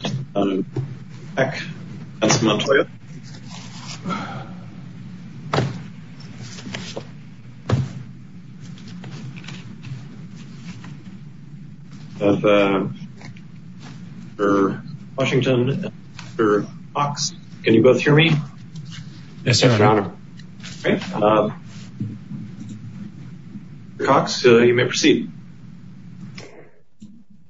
Mr. Peck, Mr. Montoya, Mr. Washington, Mr. Cox, can you both hear me? Yes, sir, your honor. Mr. Cox, you may proceed.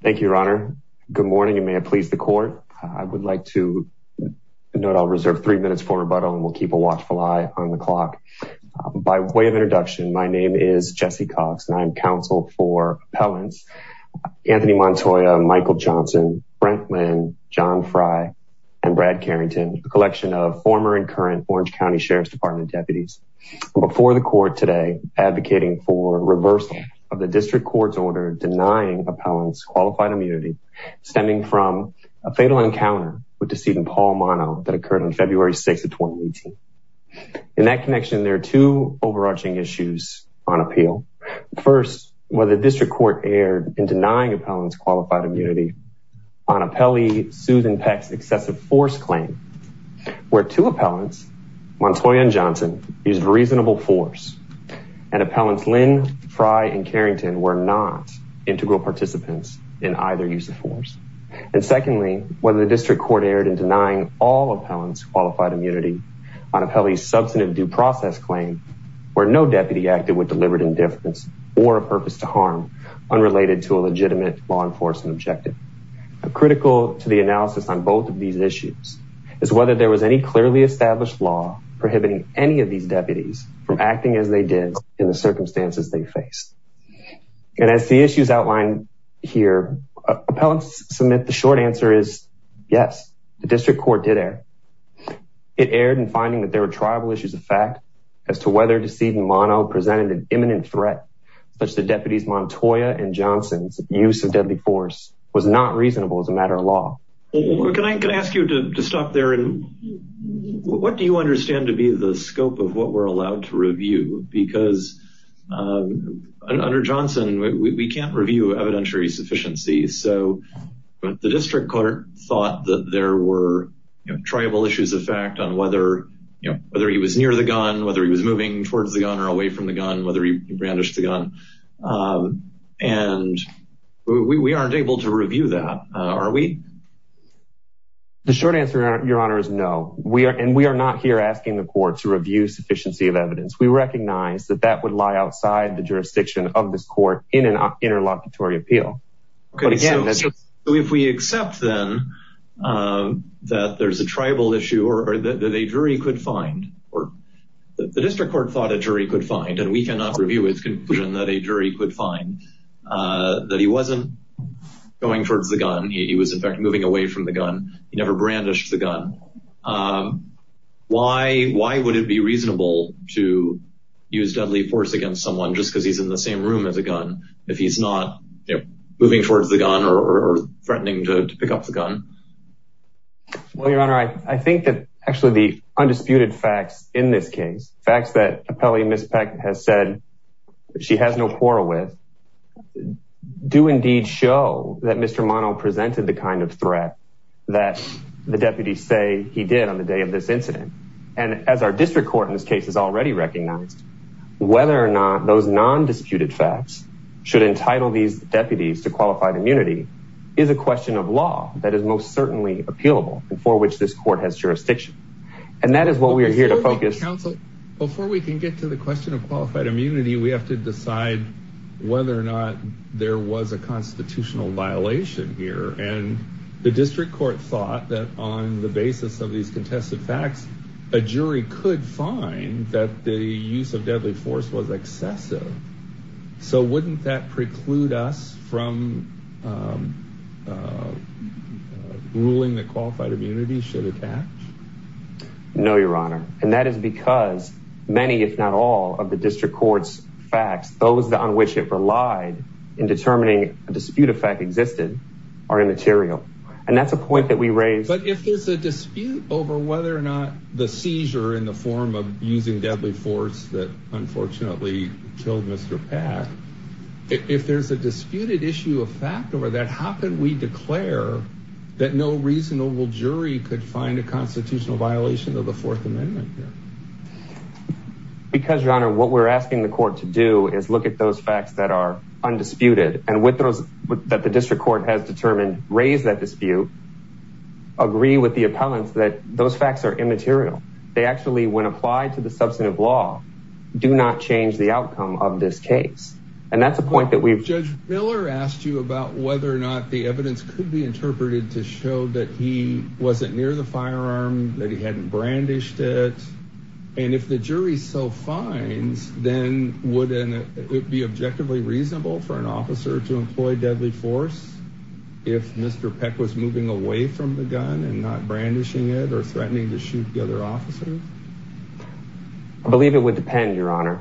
Thank you, your honor. Good morning and may it please the court. I would like to note I'll reserve three minutes for rebuttal and we'll keep a watchful eye on the clock. By way of introduction, my name is Jesse Cox and I'm counsel for appellants, Anthony Montoya, Michael Johnson, Brentman, John Fry, and Brad Carrington, a collection of former and current Orange County Sheriff's Department deputies. Before the court today, advocating for reversal of the district court's order denying appellants qualified immunity stemming from a fatal encounter with decedent Paul Mono that occurred on February 6th of 2018. In that connection, there are two overarching issues on appeal. First, whether the district court erred in denying appellants qualified immunity on appellee Susan Peck's excessive force claim where two appellants, Montoya and Johnson, used reasonable force and appellants Lynn, Fry, and Carrington were not integral participants in either use of force. And secondly, whether the district court erred in denying all appellants qualified immunity on appellee's substantive due process claim where no deputy acted with deliberate indifference or a purpose to harm unrelated to a legitimate law enforcement objective. Critical to the analysis on both of these issues is whether there was any clearly established law prohibiting any of these deputies from acting as they did in the circumstances they faced. And as the issues outlined here, appellants submit the short answer is yes, the district court did err. It erred in finding that there were tribal issues of fact as to whether decedent Mono presented an imminent threat, such that deputies Montoya and Johnson's use of deadly force was not reasonable as a matter of law. Can I ask you to stop there and what do you understand to be the scope of what we're allowed to review? Because under Johnson, we can't review evidentiary sufficiency. So the district court thought that there were tribal issues of fact on whether, you know, whether he was near the gun, whether he was moving towards the gun or away from the gun, whether he brandished the gun. And we aren't able to review that, are we? The short answer, Your Honor, is no. We are and we are not here asking the court to review sufficiency of evidence. We recognize that that would lie outside the jurisdiction of this court in an interlocutory appeal. If we accept then that there's a tribal issue or that a jury could find or the district court thought a jury could find and we cannot review its conclusion that a jury could find that he wasn't going towards the gun. He was, in fact, moving away from the gun. He never brandished the gun. Why? Why would it be reasonable to use deadly force against someone just because he's in the same room as a gun if he's not moving towards the gun or threatening to pick up the gun? Well, Your Honor, I think that actually the undisputed facts in this case, facts that Appellee Ms. Peck has said she has no quarrel with, do indeed show that Mr. Mono presented the kind of threat that the deputies say he did on the day of this incident. And as our district court in this case has already recognized, whether or not those nondisputed facts should entitle these deputies to qualified immunity is a question of law that is most certainly appealable and for which this court has jurisdiction. And that is what we are here to focus. Before we can get to the question of qualified immunity, we have to decide whether or not there was a constitutional violation here. And the district court thought that on the basis of these contested facts, a jury could find that the use of deadly force was excessive. So wouldn't that preclude us from ruling that qualified immunity should attach? No, Your Honor. And that is because many, if not all of the district court's facts, those on which it relied in determining a dispute effect existed are immaterial. And that's a point that we raised. But if there's a dispute over whether or not the seizure in the form of using deadly force that unfortunately killed Mr. Pack, if there's a disputed issue of fact over that, how can we declare that no reasonable jury could find a constitutional violation of the Fourth Amendment? Because, Your Honor, what we're asking the court to do is look at those facts that are undisputed and with those that the district court has determined, raise that dispute, agree with the appellants that those facts are immaterial. They actually, when applied to the substantive law, do not change the outcome of this case. Judge Miller asked you about whether or not the evidence could be interpreted to show that he wasn't near the firearm, that he hadn't brandished it. And if the jury so finds, then would it be objectively reasonable for an officer to employ deadly force if Mr. Peck was moving away from the gun and not brandishing it or threatening to shoot the other officers? I believe it would depend, Your Honor.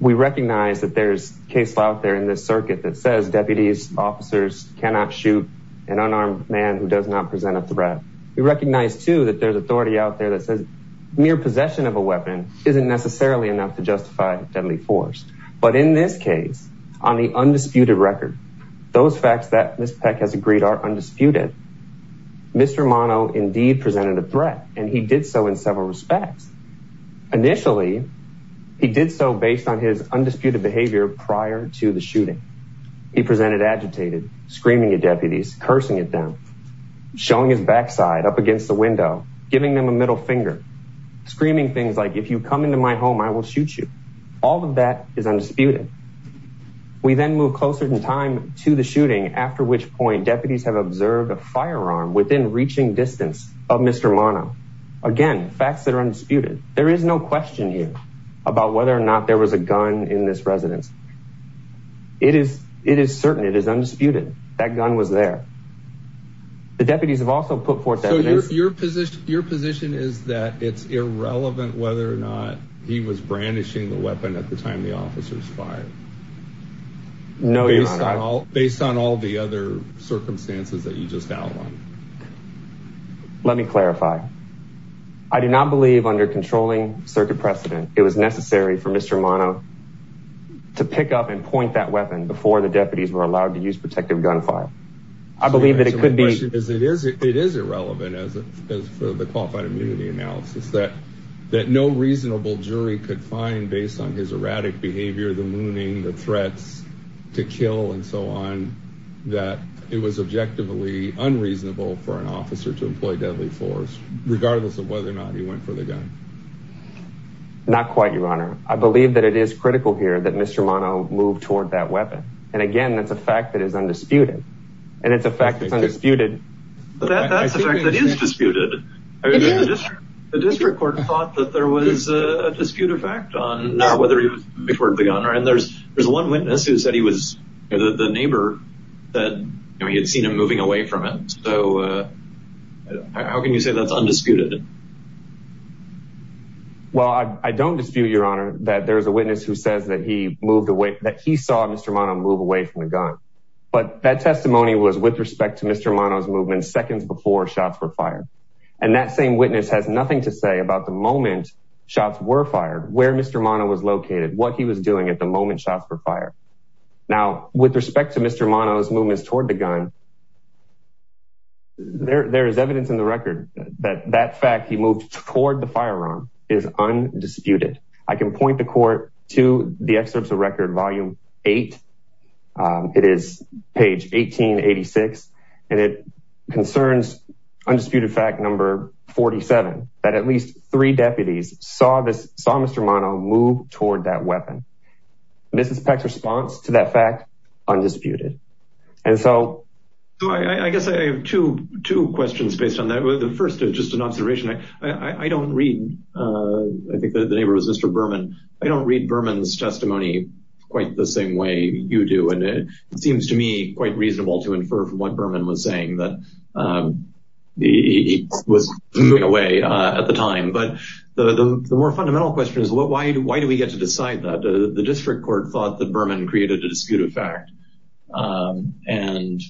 We recognize that there's case law out there in this circuit that says deputies, officers cannot shoot an unarmed man who does not present a threat. We recognize, too, that there's authority out there that says mere possession of a weapon isn't necessarily enough to justify deadly force. But in this case, on the undisputed record, those facts that Ms. Peck has agreed are undisputed. Mr. Mono indeed presented a threat, and he did so in several respects. Initially, he did so based on his undisputed behavior prior to the shooting. He presented agitated, screaming at deputies, cursing at them, showing his backside up against the window, giving them a middle finger, screaming things like, if you come into my home, I will shoot you. All of that is undisputed. We then move closer in time to the shooting, after which point deputies have observed a firearm within reaching distance of Mr. Mono. Again, facts that are undisputed. There is no question here about whether or not there was a gun in this residence. It is certain. It is undisputed. That gun was there. The deputies have also put forth evidence. So your position is that it's irrelevant whether or not he was brandishing the weapon at the time the officers fired. No, Your Honor. Based on all the other circumstances that you just outlined. Let me clarify. I do not believe under controlling circuit precedent, it was necessary for Mr. Mono to pick up and point that weapon before the deputies were allowed to use protective gunfire. I believe that it could be. It is irrelevant, as for the qualified immunity analysis, that no reasonable jury could find based on his erratic behavior, the mooning, the threats to kill and so on. That it was objectively unreasonable for an officer to employ deadly force, regardless of whether or not he went for the gun. Not quite, Your Honor. I believe that it is critical here that Mr. Mono move toward that weapon. And again, that's a fact that is undisputed. And it's a fact that's undisputed. That's a fact that is disputed. The district court thought that there was a dispute effect on whether he was before the gun. And there's one witness who said he was the neighbor that he had seen him moving away from him. So how can you say that's undisputed? Well, I don't dispute, Your Honor, that there's a witness who says that he moved away, that he saw Mr. Mono move away from the gun. But that testimony was with respect to Mr. Mono's movement seconds before shots were fired. And that same witness has nothing to say about the moment shots were fired, where Mr. Mono was located, what he was doing at the moment shots were fired. Now, with respect to Mr. Mono's movements toward the gun, there is evidence in the record that that fact he moved toward the firearm is undisputed. I can point the court to the excerpts of record, volume 8. It is page 1886. And it concerns undisputed fact number 47, that at least three deputies saw Mr. Mono move toward that weapon. Mrs. Peck's response to that fact, undisputed. And so... I guess I have two questions based on that. The first is just an observation. I don't read, I think the neighbor was Mr. Berman. I don't read Berman's testimony quite the same way you do. And it seems to me quite reasonable to infer from what Berman was saying that he was moving away at the time. But the more fundamental question is why do we get to decide that? The district court thought that Berman created a disputed fact. And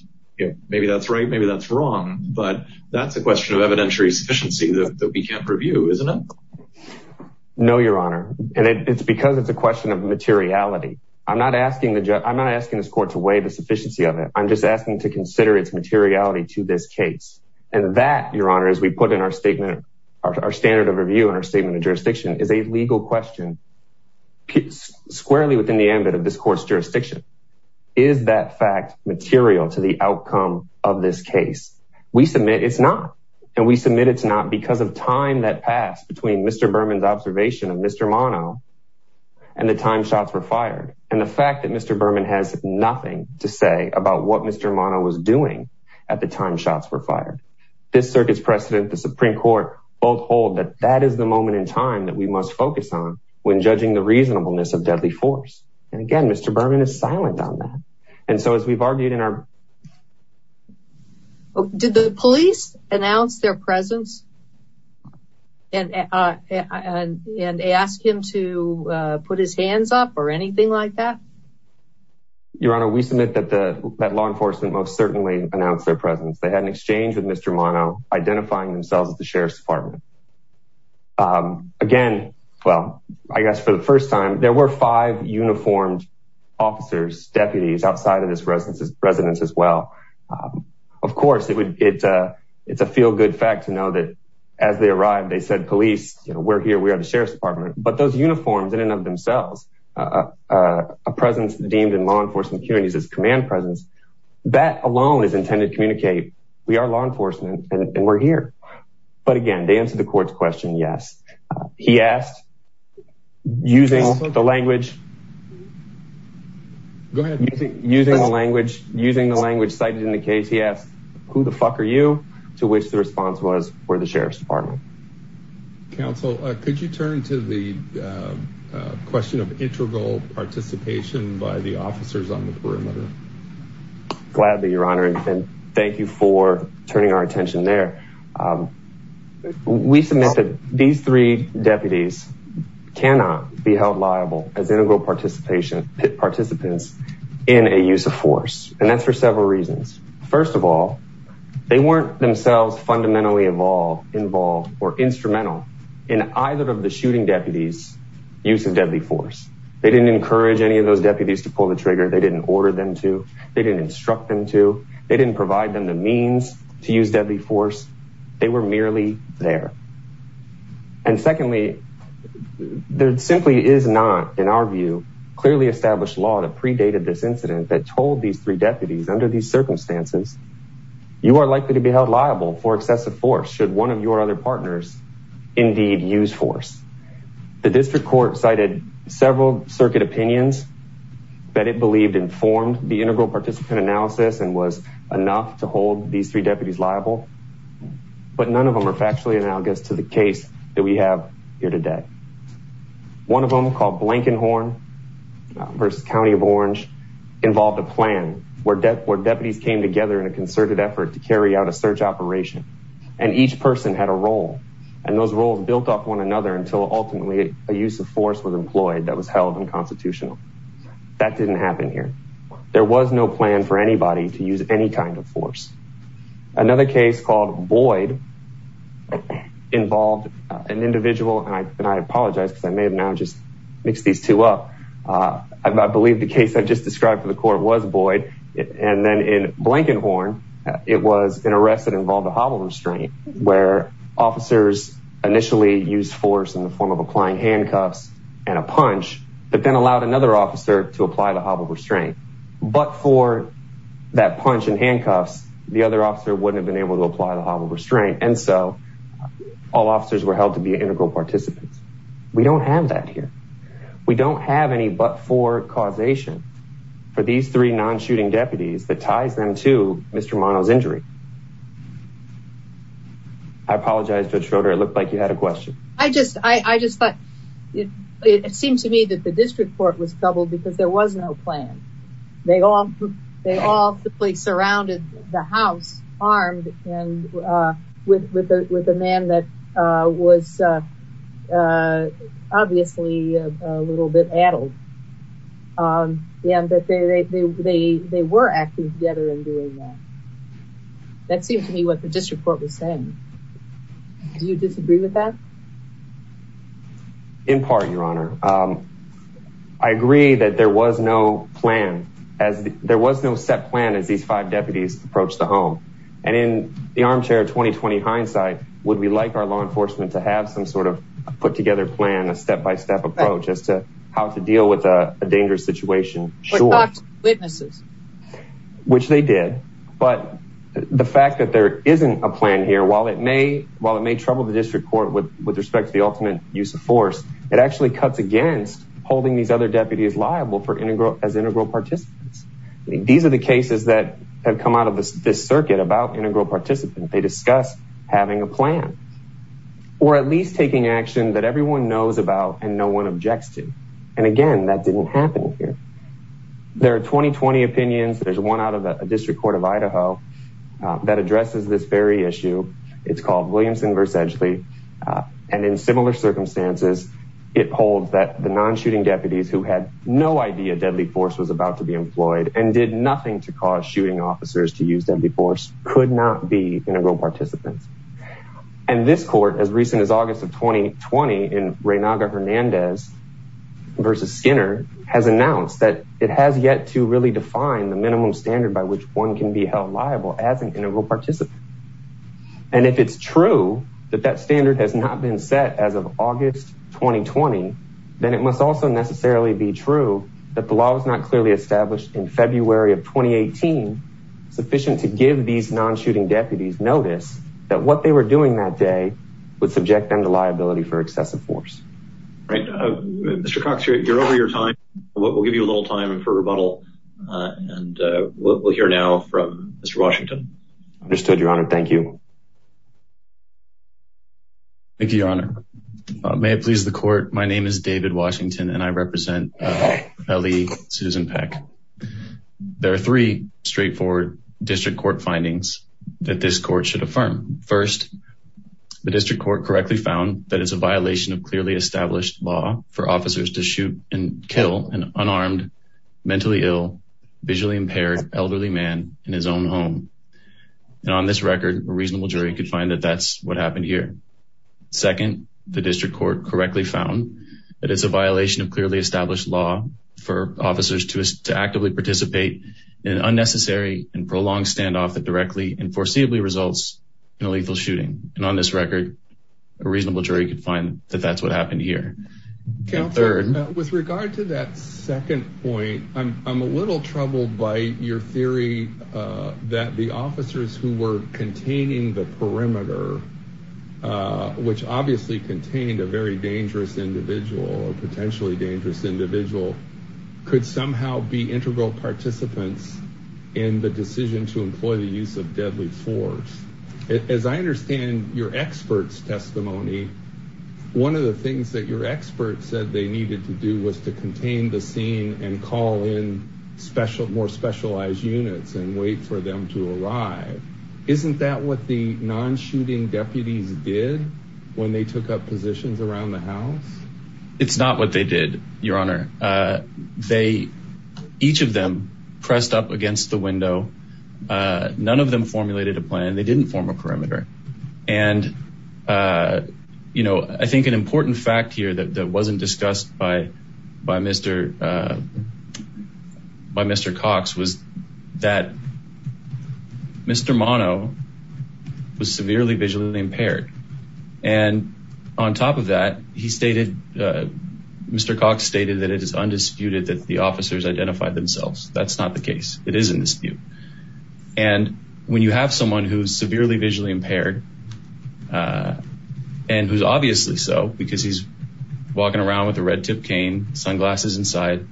maybe that's right, maybe that's wrong. But that's a question of evidentiary sufficiency that we can't preview, isn't it? No, Your Honor. And it's because it's a question of materiality. I'm not asking this court to weigh the sufficiency of it. I'm just asking to consider its materiality to this case. And that, Your Honor, as we put in our statement, our standard of review in our statement of jurisdiction, is a legal question squarely within the ambit of this court's jurisdiction. Is that fact material to the outcome of this case? We submit it's not. And we submit it's not because of time that passed between Mr. Berman's observation of Mr. Mono and the time shots were fired. And the fact that Mr. Berman has nothing to say about what Mr. Mono was doing at the time shots were fired. This circuit's precedent, the Supreme Court, both hold that that is the moment in time that we must focus on when judging the reasonableness of deadly force. And again, Mr. Berman is silent on that. And so as we've argued in our... Did the police announce their presence and ask him to put his hands up or anything like that? Your Honor, we submit that law enforcement most certainly announced their presence. They had an exchange with Mr. Mono, identifying themselves as the Sheriff's Department. Again, well, I guess for the first time, there were five uniformed officers, deputies outside of this residence as well. Of course, it's a feel-good fact to know that as they arrived, they said, police, we're here, we are the Sheriff's Department. But those uniforms in and of themselves, a presence deemed in law enforcement communities as command presence, that alone is intended to communicate. We are law enforcement and we're here. But again, to answer the court's question, yes. He asked, using the language cited in the case, he asked, who the fuck are you? To which the response was, we're the Sheriff's Department. Counsel, could you turn to the question of integral participation by the officers on the perimeter? Gladly, Your Honor, and thank you for turning our attention there. We submit that these three deputies cannot be held liable as integral participants in a use of force. And that's for several reasons. First of all, they weren't themselves fundamentally involved or instrumental in either of the shooting deputies' use of deadly force. They didn't encourage any of those deputies to pull the trigger. They didn't order them to. They didn't instruct them to. They didn't provide them the means to use deadly force. They were merely there. And secondly, there simply is not, in our view, clearly established law that predated this incident that told these three deputies under these circumstances, you are likely to be held liable for excessive force should one of your other partners indeed use force. The district court cited several circuit opinions that it believed informed the integral participant analysis and was enough to hold these three deputies liable. But none of them are factually analogous to the case that we have here today. One of them, called Blankenhorn v. County of Orange, involved a plan where deputies came together in a concerted effort to carry out a search operation. And each person had a role. And those roles built off one another until ultimately a use of force was employed that was held unconstitutional. That didn't happen here. There was no plan for anybody to use any kind of force. Another case called Boyd involved an individual, and I apologize because I may have now just mixed these two up. I believe the case I just described for the court was Boyd. And then in Blankenhorn, it was an arrest that involved a hobble restraint where officers initially used force in the form of applying handcuffs and a punch that then allowed another officer to apply the hobble restraint. But for that punch and handcuffs, the other officer wouldn't have been able to apply the hobble restraint. And so all officers were held to be integral participants. We don't have that here. We don't have any but-for causation for these three non-shooting deputies that ties them to Mr. Mono's injury. I apologize, Judge Schroeder, it looked like you had a question. I just thought it seemed to me that the district court was troubled because there was no plan. They all simply surrounded the house, armed, with a man that was obviously a little bit addled. And that they were acting together in doing that. That seemed to me what the district court was saying. Do you disagree with that? In part, Your Honor. I agree that there was no plan. There was no set plan as these five deputies approached the home. And in the armchair of 20-20 hindsight, would we like our law enforcement to have some sort of put-together plan, a step-by-step approach as to how to deal with a dangerous situation? Or talk to witnesses. Which they did. But the fact that there isn't a plan here, while it may trouble the district court with respect to the ultimate use of force, it actually cuts against holding these other deputies liable as integral participants. These are the cases that have come out of this circuit about integral participants. They discuss having a plan. Or at least taking action that everyone knows about and no one objects to. And again, that didn't happen here. There are 20-20 opinions. There's one out of the district court of Idaho that addresses this very issue. It's called Williamson v. Edgeley. And in similar circumstances, it holds that the non-shooting deputies who had no idea deadly force was about to be employed and did nothing to cause shooting officers to use deadly force could not be integral participants. And this court, as recent as August of 20-20 in Reynaga-Hernandez v. Skinner, has announced that it has yet to really define the minimum standard by which one can be held liable as an integral participant. And if it's true that that standard has not been set as of August 20-20, then it must also necessarily be true that the law was not clearly established in February of 2018 sufficient to give these non-shooting deputies notice that what they were doing that day would subject them to liability for excessive force. Mr. Cox, you're over your time. We'll give you a little time for rebuttal. And we'll hear now from Mr. Washington. Understood, Your Honor. Thank you. Thank you, Your Honor. May it please the court. My name is David Washington and I represent L.E. Susan Peck. There are three straightforward district court findings that this court should affirm. First, the district court correctly found that it's a violation of clearly established law for officers to shoot and kill an unarmed, mentally ill, visually impaired elderly man in his own home. And on this record, a reasonable jury could find that that's what happened here. Second, the district court correctly found that it's a violation of clearly established law for officers to actively participate in unnecessary and prolonged standoff that directly and foreseeably results in a lethal shooting. And on this record, a reasonable jury could find that that's what happened here. Counselor, with regard to that second point, I'm a little troubled by your theory that the officers who were containing the perimeter, which obviously contained a very dangerous individual or potentially dangerous individual, could somehow be integral participants in the decision to employ the use of deadly force. As I understand your expert's testimony, one of the things that your expert said they needed to do was to contain the scene and call in more specialized units and wait for them to arrive. Isn't that what the non-shooting deputies did when they took up positions around the house? It's not what they did, Your Honor. Each of them pressed up against the window. None of them formulated a plan. They didn't form a perimeter. And, you know, I think an important fact here that wasn't discussed by Mr. Cox was that Mr. Mono was severely visually impaired. And on top of that, Mr. Cox stated that it is undisputed that the officers identified themselves. That's not the case. It is in dispute. And when you have someone who's severely visually impaired, and who's obviously so because he's walking around with a red tip cane, sunglasses inside,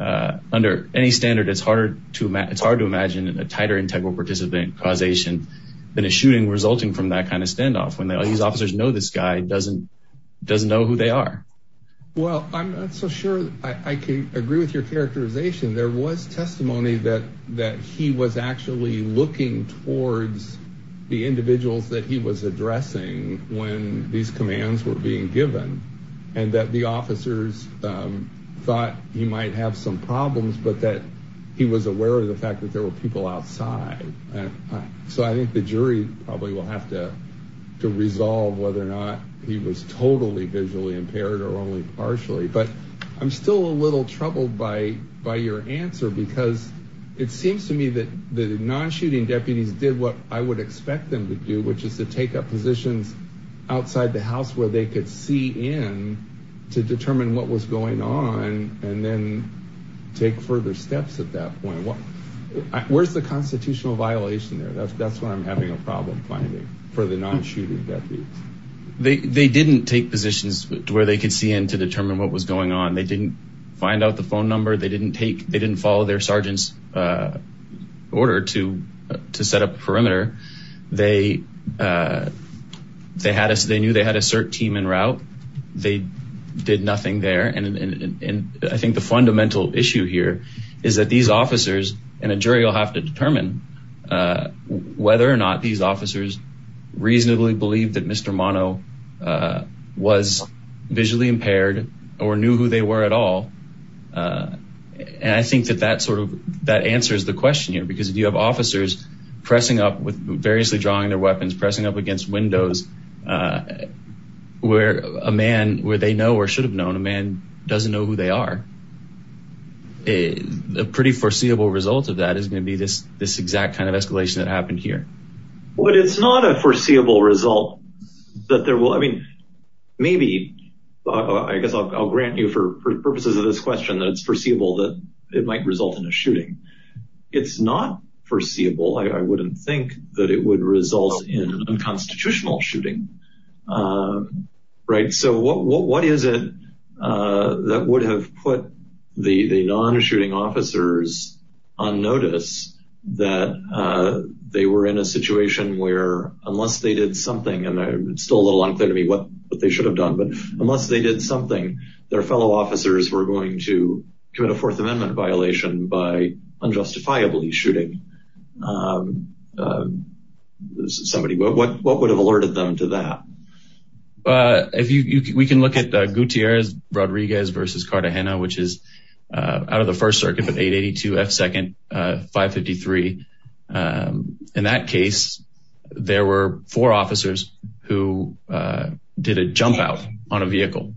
under any standard it's hard to imagine a tighter integral participant causation than a shooting resulting from that kind of standoff when all these officers know this guy doesn't know who they are. Well, I'm not so sure I can agree with your characterization. There was testimony that he was actually looking towards the individuals that he was addressing when these commands were being given, and that the officers thought he might have some problems, but that he was aware of the fact that there were people outside. So I think the jury probably will have to resolve whether or not he was totally visually impaired or only partially. But I'm still a little troubled by your answer, because it seems to me that the non-shooting deputies did what I would expect them to do, which is to take up positions outside the house where they could see in to determine what was going on and then take further steps at that point. Where's the constitutional violation there? That's where I'm having a problem finding for the non-shooting deputies. They didn't take positions where they could see in to determine what was going on. They didn't find out the phone number. They didn't follow their sergeant's order to set up a perimeter. They knew they had a CERT team en route. They did nothing there. And I think the fundamental issue here is that these officers, and a jury will have to determine whether or not these officers reasonably believed that Mr. Mono was visually impaired or knew who they were at all. And I think that that answers the question here, because if you have officers pressing up, variously drawing their weapons, pressing up against windows where a man, where they know or should have known, a man doesn't know who they are, a pretty foreseeable result of that is going to be this exact kind of escalation that happened here. But it's not a foreseeable result that there will, I mean, maybe, I guess I'll grant you for purposes of this question that it's foreseeable that it might result in a shooting. It's not foreseeable. I wouldn't think that it would result in a constitutional shooting. Right. So what is it that would have put the non-shooting officers on notice that they were in a situation where unless they did something, and it's still a little unclear to me what they should have done, but unless they did something, their fellow officers were going to commit a Fourth Amendment violation by unjustifiably shooting somebody. What would have alerted them to that? We can look at Gutierrez-Rodriguez versus Cartagena, which is out of the First Circuit, but 882 F2nd 553. In that case, there were four officers who did a jump out on a vehicle,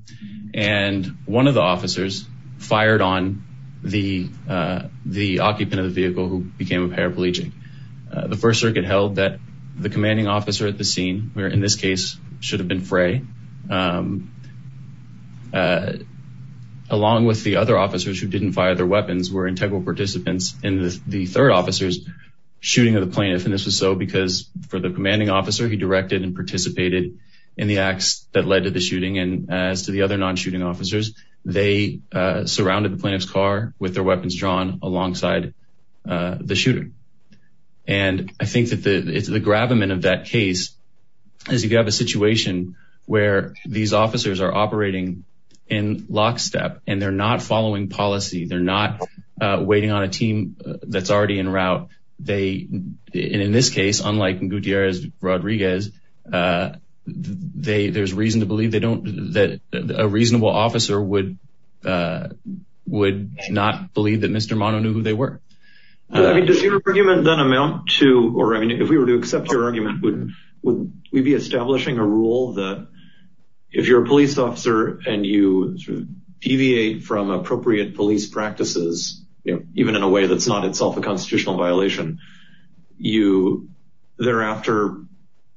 and one of the officers fired on the occupant of the vehicle who became a paraplegic. The First Circuit held that the commanding officer at the scene, where in this case should have been Frey, along with the other officers who didn't fire their weapons, were integral participants in the third officer's shooting of the plaintiff. And this was so because for the commanding officer, he directed and participated in the acts that led to the shooting. And as to the other non-shooting officers, they surrounded the plaintiff's car with their weapons drawn alongside the shooter. And I think that the gravamen of that case is you have a situation where these officers are operating in lockstep, and they're not following policy. They're not waiting on a team that's already en route. And in this case, unlike in Gutierrez-Rodriguez, there's reason to believe that a reasonable officer would not believe that Mr. Mono knew who they were. Does your argument then amount to, or if we were to accept your argument, would we be establishing a rule that if you're a police officer and you deviate from appropriate police practices, even in a way that's not itself a constitutional violation, you thereafter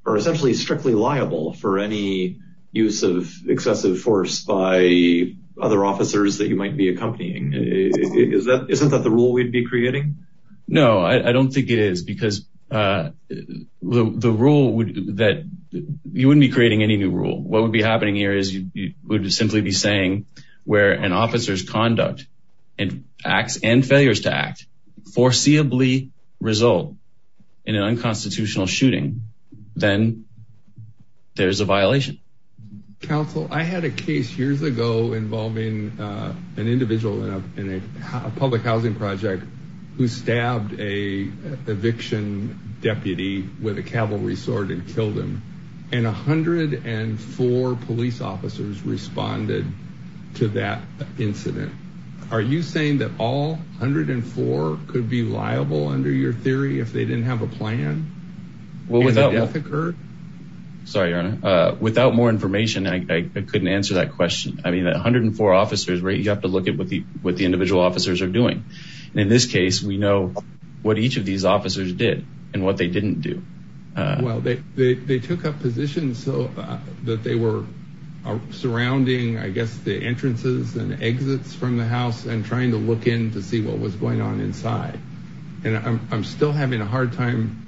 are essentially strictly liable for any use of excessive force by other officers that you might be accompanying? Isn't that the rule we'd be creating? No, I don't think it is, because you wouldn't be creating any new rule. What would be happening here is you would simply be saying where an officer's conduct and acts and failures to act foreseeably result in an unconstitutional shooting, then there's a violation. Counsel, I had a case years ago involving an individual in a public housing project who stabbed an eviction deputy with a cavalry sword and killed him, and 104 police officers responded to that incident. Are you saying that all 104 could be liable under your theory if they didn't have a plan? Sorry, Your Honor. Without more information, I couldn't answer that question. I mean, 104 officers, you have to look at what the individual officers are doing. In this case, we know what each of these officers did and what they didn't do. Well, they took up positions that they were surrounding, I guess, the entrances and exits from the house and trying to look in to see what was going on inside. And I'm still having a hard time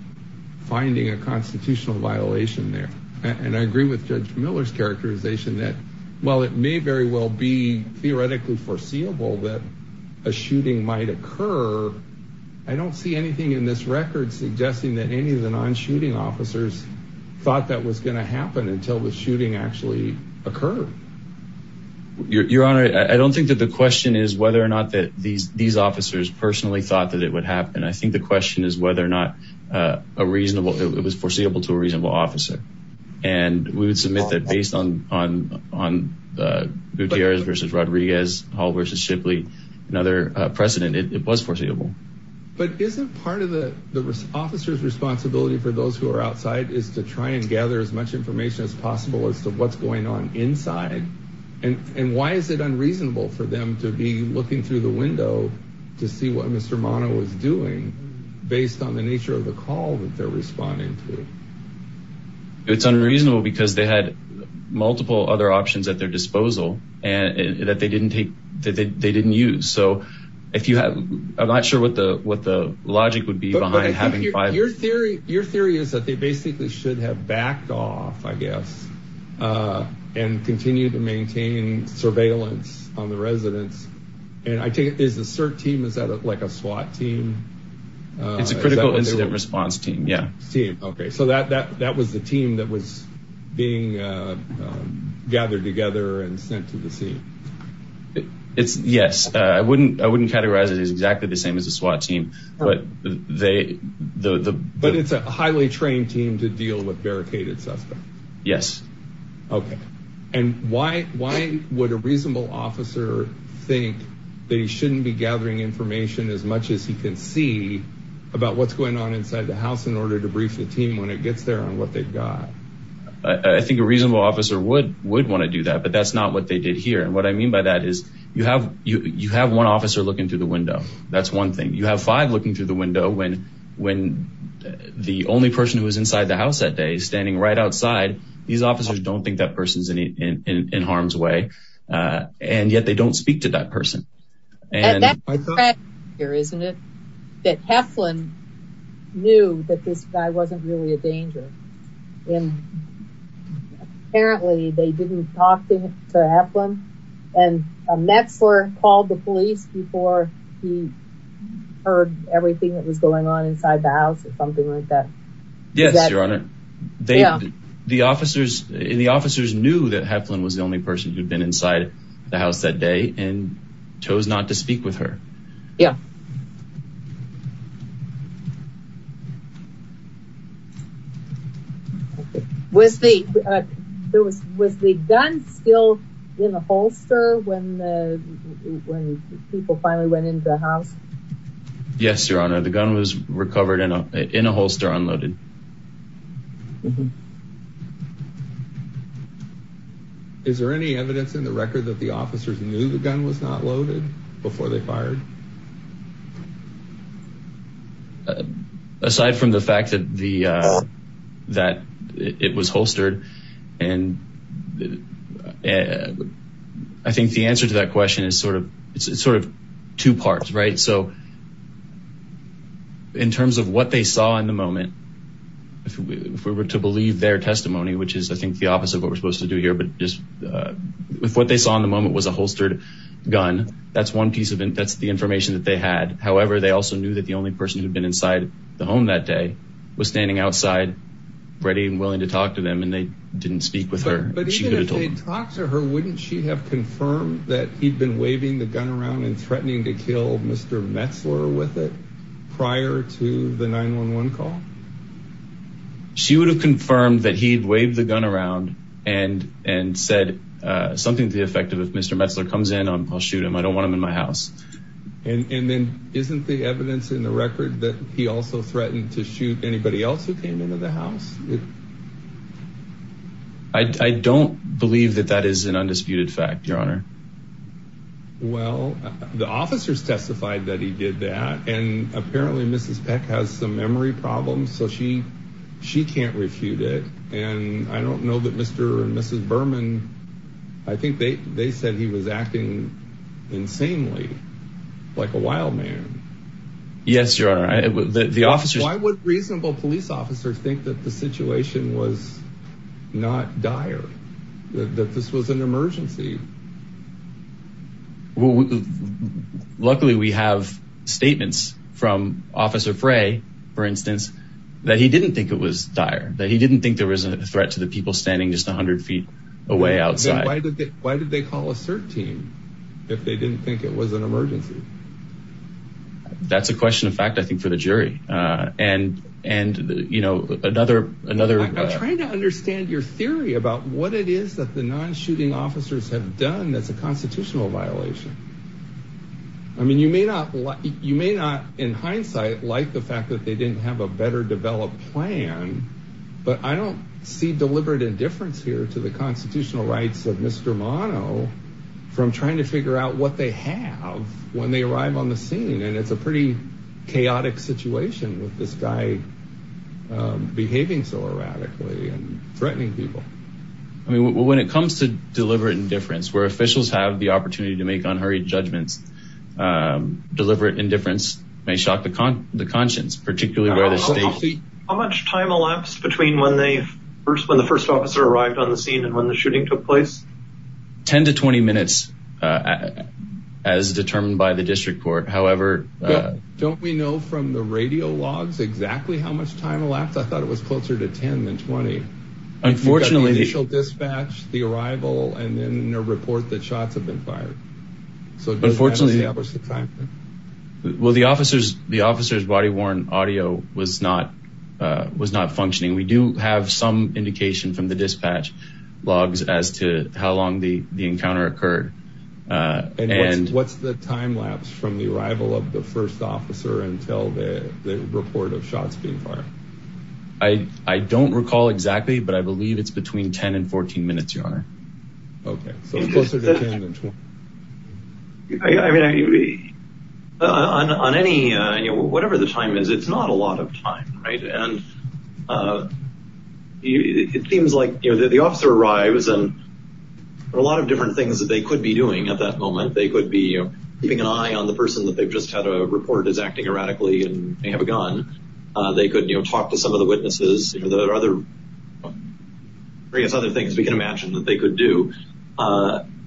finding a constitutional violation there. And I agree with Judge Miller's characterization that, while it may very well be theoretically foreseeable that a shooting might occur, I don't see anything in this record suggesting that any of the non-shooting officers thought that was going to happen until the shooting actually occurred. Your Honor, I don't think that the question is whether or not these officers personally thought that it would happen. I think the question is whether or not it was foreseeable to a reasonable officer. And we would submit that based on Gutierrez v. Rodriguez, Hall v. Shipley, and other precedent, it was foreseeable. But isn't part of the officer's responsibility for those who are outside is to try and gather as much information as possible as to what's going on inside? And why is it unreasonable for them to be looking through the window to see what Mr. Mana was doing based on the nature of the call that they're responding to? It's unreasonable because they had multiple other options at their disposal that they didn't use. So I'm not sure what the logic would be behind having five officers. Your theory is that they basically should have backed off, I guess, and continued to maintain surveillance on the residents. And I take it there's a CERT team. Is that like a SWAT team? It's a critical incident response team, yeah. Okay, so that was the team that was being gathered together and sent to the scene. Yes. I wouldn't categorize it as exactly the same as a SWAT team. But it's a highly trained team to deal with barricaded suspects. Yes. Okay. And why would a reasonable officer think they shouldn't be gathering information as much as he can see about what's going on inside the house in order to brief the team when it gets there on what they've got? I think a reasonable officer would want to do that, but that's not what they did here. And what I mean by that is you have one officer looking through the window. That's one thing. You have five looking through the window when the only person who was inside the house that day is standing right outside. These officers don't think that person's in harm's way. And yet they don't speak to that person. That's the tragedy here, isn't it? That Heflin knew that this guy wasn't really a danger. And apparently they didn't talk to Heflin. And Metzler called the police before he heard everything that was going on inside the house or something like that. Yes, Your Honor. The officers knew that Heflin was the only person who'd been inside the house that day and chose not to speak with her. Yeah. Was the gun still in a holster when people finally went into the house? Yes, Your Honor. The gun was recovered in a holster unloaded. Is there any evidence in the record that the officers knew the gun was not loaded before they fired? Aside from the fact that it was holstered, I think the answer to that question is sort of two parts, right? So in terms of what they saw in the moment, if we were to believe their testimony, which is I think the opposite of what we're supposed to do here, but if what they saw in the moment was a holstered gun, that's the information that they had. However, they also knew that the only person who'd been inside the home that day was standing outside ready and willing to talk to them, and they didn't speak with her. But even if they'd talked to her, wouldn't she have confirmed that he'd been waving the gun around and threatening to kill Mr. Metzler with it prior to the 911 call? She would have confirmed that he'd waved the gun around and said something to the effect of, if Mr. Metzler comes in, I'll shoot him. I don't want him in my house. And then isn't the evidence in the record that he also threatened to shoot anybody else who came into the house? I don't believe that that is an undisputed fact, Your Honor. Well, the officers testified that he did that, and apparently Mrs. Peck has some memory problems, so she can't refute it. And I don't know that Mr. and Mrs. Berman, I think they said he was acting insanely, like a wild man. Yes, Your Honor. Why would reasonable police officers think that the situation was not dire, that this was an emergency? Luckily, we have statements from Officer Frey, for instance, that he didn't think it was dire, that he didn't think there was a threat to the people standing just 100 feet away outside. Then why did they call a CERT team if they didn't think it was an emergency? That's a question of fact, I think, for the jury. I'm trying to understand your theory about what it is that the non-shooting officers have done that's a constitutional violation. I mean, you may not, in hindsight, like the fact that they didn't have a better-developed plan, but I don't see deliberate indifference here to the constitutional rights of Mr. Mono from trying to figure out what they have when they arrive on the scene. And it's a pretty chaotic situation with this guy behaving so erratically and threatening people. When it comes to deliberate indifference, where officials have the opportunity to make unhurried judgments, deliberate indifference may shock the conscience, particularly where the state... How much time elapsed between when the first officer arrived on the scene and when the shooting took place? 10 to 20 minutes, as determined by the district court. However... Don't we know from the radio logs exactly how much time elapsed? I thought it was closer to 10 than 20. Unfortunately... We've got the initial dispatch, the arrival, and then a report that shots have been fired. Unfortunately... Well, the officer's body-worn audio was not functioning. We do have some indication from the dispatch logs as to how long the encounter occurred. And what's the time lapse from the arrival of the first officer until the report of shots being fired? I don't recall exactly, but I believe it's between 10 and 14 minutes, Your Honor. Okay, so closer to 10 than 20. I mean, on any... Whatever the time is, it's not a lot of time, right? It seems like the officer arrives, and there are a lot of different things that they could be doing at that moment. They could be keeping an eye on the person that they've just had a report is acting erratically and may have a gun. They could talk to some of the witnesses. There are other things we can imagine that they could do. I'm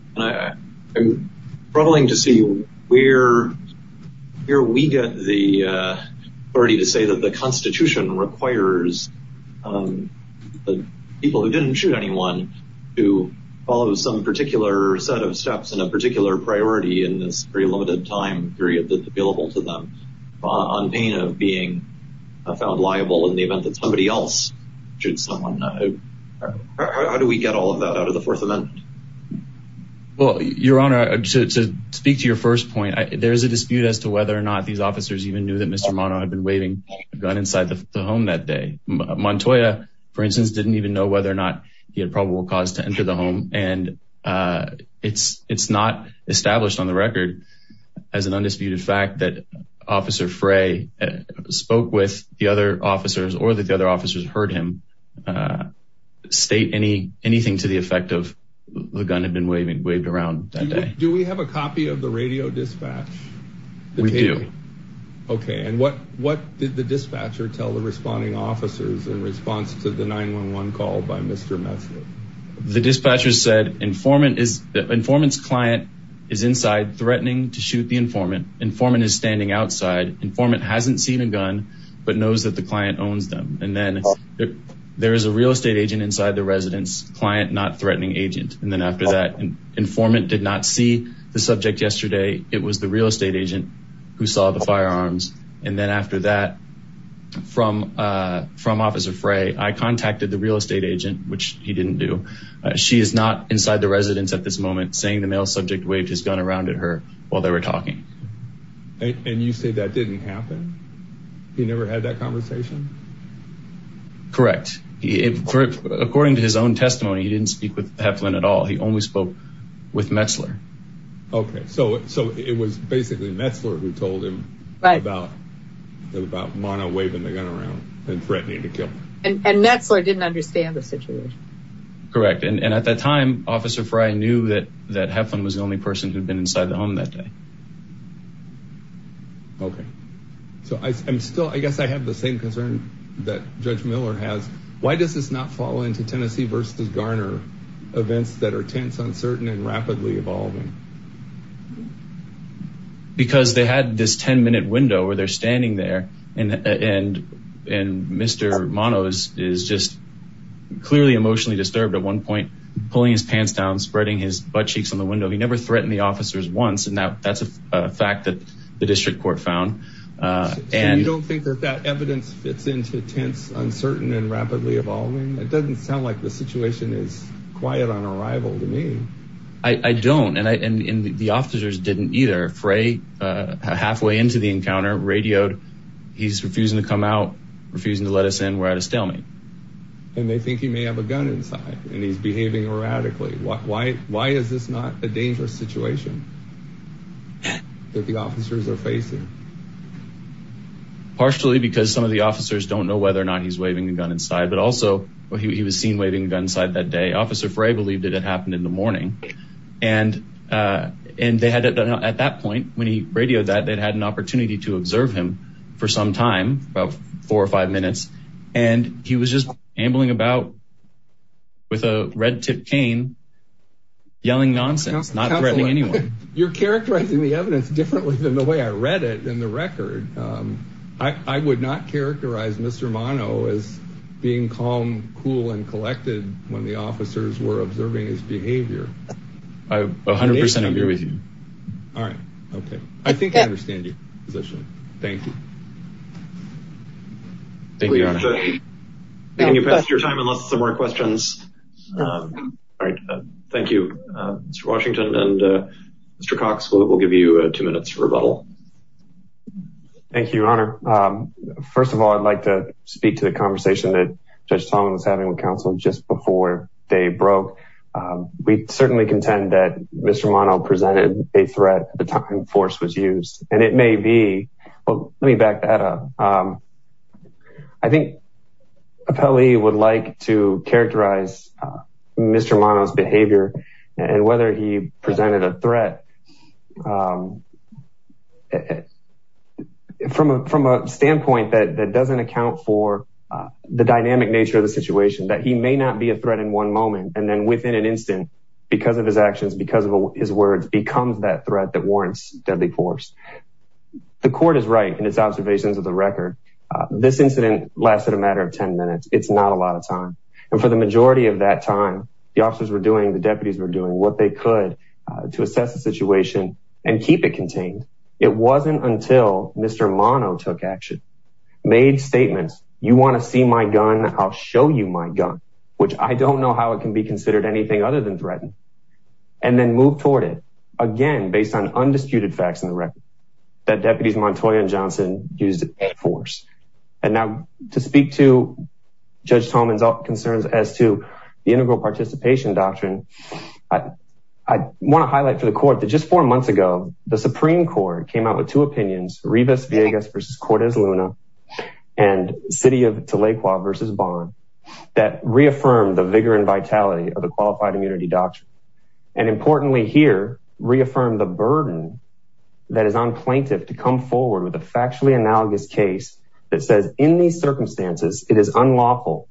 troubling to see where we get the authority to say that the Constitution requires people who didn't shoot anyone to follow some particular set of steps and a particular priority in this very limited time period that's available to them on pain of being found liable in the event that somebody else shoots someone. How do we get all of that out of the Fourth Amendment? Well, Your Honor, to speak to your first point, there's a dispute as to whether or not these officers even knew that Mr. Mono had been waving a gun inside the home that day. Montoya, for instance, didn't even know whether or not he had probable cause to enter the home, and it's not established on the record as an undisputed fact that Officer Frey spoke with the other officers or that the other officers heard him state anything to the effect of the gun had been waved around that day. Do we have a copy of the radio dispatch? We do. Okay, and what did the dispatcher tell the responding officers in response to the 911 call by Mr. Messick? The dispatcher said the informant's client is inside threatening to shoot the informant. Informant is standing outside. Informant hasn't seen a gun but knows that the client owns them. And then there is a real estate agent inside the residence, client not threatening agent. And then after that, informant did not see the subject yesterday. It was the real estate agent who saw the firearms. And then after that, from Officer Frey, I contacted the real estate agent, which he didn't do. She is not inside the residence at this moment, saying the male subject waved his gun around at her while they were talking. And you say that didn't happen? He never had that conversation? Correct. According to his own testimony, he didn't speak with Heflin at all. He only spoke with Metzler. Okay. So it was basically Metzler who told him about Mauna waving the gun around and threatening to kill her. And Metzler didn't understand the situation. Correct. And at that time, Officer Frey knew that Heflin was the only person who had been inside the home that day. Okay. So I guess I have the same concern that Judge Miller has. Why does this not fall into Tennessee versus Garner events that are tense, uncertain, and rapidly evolving? Because they had this 10-minute window where they're standing there, and Mr. Manos is just clearly emotionally disturbed at one point, pulling his pants down, spreading his buttcheeks on the window. He never threatened the officers once, and that's a fact that the district court found. And you don't think that that evidence fits into tense, uncertain, and rapidly evolving? It doesn't sound like the situation is quiet on arrival to me. I don't, and the officers didn't either. Frey, halfway into the encounter, radioed, he's refusing to come out, refusing to let us in. We're at a stalemate. And they think he may have a gun inside, and he's behaving erratically. Why is this not a dangerous situation that the officers are facing? Partially because some of the officers don't know whether or not he's waving a gun inside, but also he was seen waving a gun inside that day. Officer Frey believed it had happened in the morning. And at that point, when he radioed that, they'd had an opportunity to observe him for some time, about four or five minutes, and he was just ambling about with a red-tipped cane, yelling nonsense, not threatening anyone. You're characterizing the evidence differently than the way I read it in the record. I would not characterize Mr. Mono as being calm, cool, and collected when the officers were observing his behavior. I 100% agree with you. All right. Okay. I think I understand your position. Thank you. Thank you, Your Honor. Can you pass your time unless there's some more questions? All right. Thank you, Mr. Washington. Mr. Cox, we'll give you two minutes for rebuttal. Thank you, Your Honor. First of all, I'd like to speak to the conversation that Judge Tong was having with counsel just before day broke. We certainly contend that Mr. Mono presented a threat at the time force was used, and it may be, well, let me back that up. And whether he presented a threat from a standpoint that doesn't account for the dynamic nature of the situation, that he may not be a threat in one moment and then within an instant, because of his actions, because of his words, becomes that threat that warrants deadly force. The court is right in its observations of the record. This incident lasted a matter of 10 minutes. It's not a lot of time. And for the majority of that time, the officers were doing, the deputies were doing what they could to assess the situation and keep it contained. It wasn't until Mr. Mono took action, made statements. You want to see my gun? I'll show you my gun, which I don't know how it can be considered anything other than threatened and then move toward it again, And now to speak to judge Tomans concerns as to the integral participation doctrine. I want to highlight for the court that just four months ago, the Supreme court came out with two opinions, Rivas Vegas versus Cortez Luna and city of Tulaqua versus bond that reaffirmed the vigor and vitality of the qualified immunity doctrine. And importantly here reaffirmed the burden that is on plaintiff to come forward with a factually analogous case that says in these circumstances, it is unlawful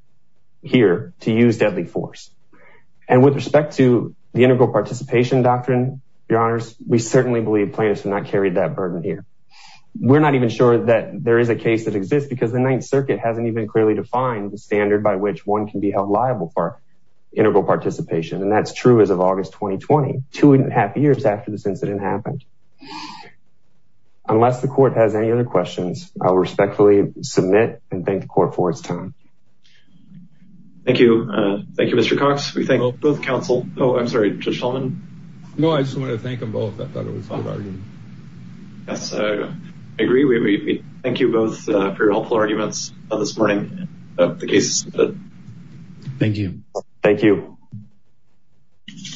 here to use deadly force. And with respect to the integral participation doctrine, your honors, we certainly believe plaintiffs have not carried that burden here. We're not even sure that there is a case that exists because the ninth circuit hasn't even clearly defined the standard by which one can be held liable for integral participation. And that's true as of August, 2020, two and a half years after this incident happened. Unless the court has any other questions, I will respectfully submit and thank the court for its time. Thank you. Thank you, Mr. Cox. We thank both counsel. Oh, I'm sorry. No, I just wanted to thank them both. I thought it was fine. I agree. We thank you both for your helpful arguments this morning. The case. Thank you. Thank you.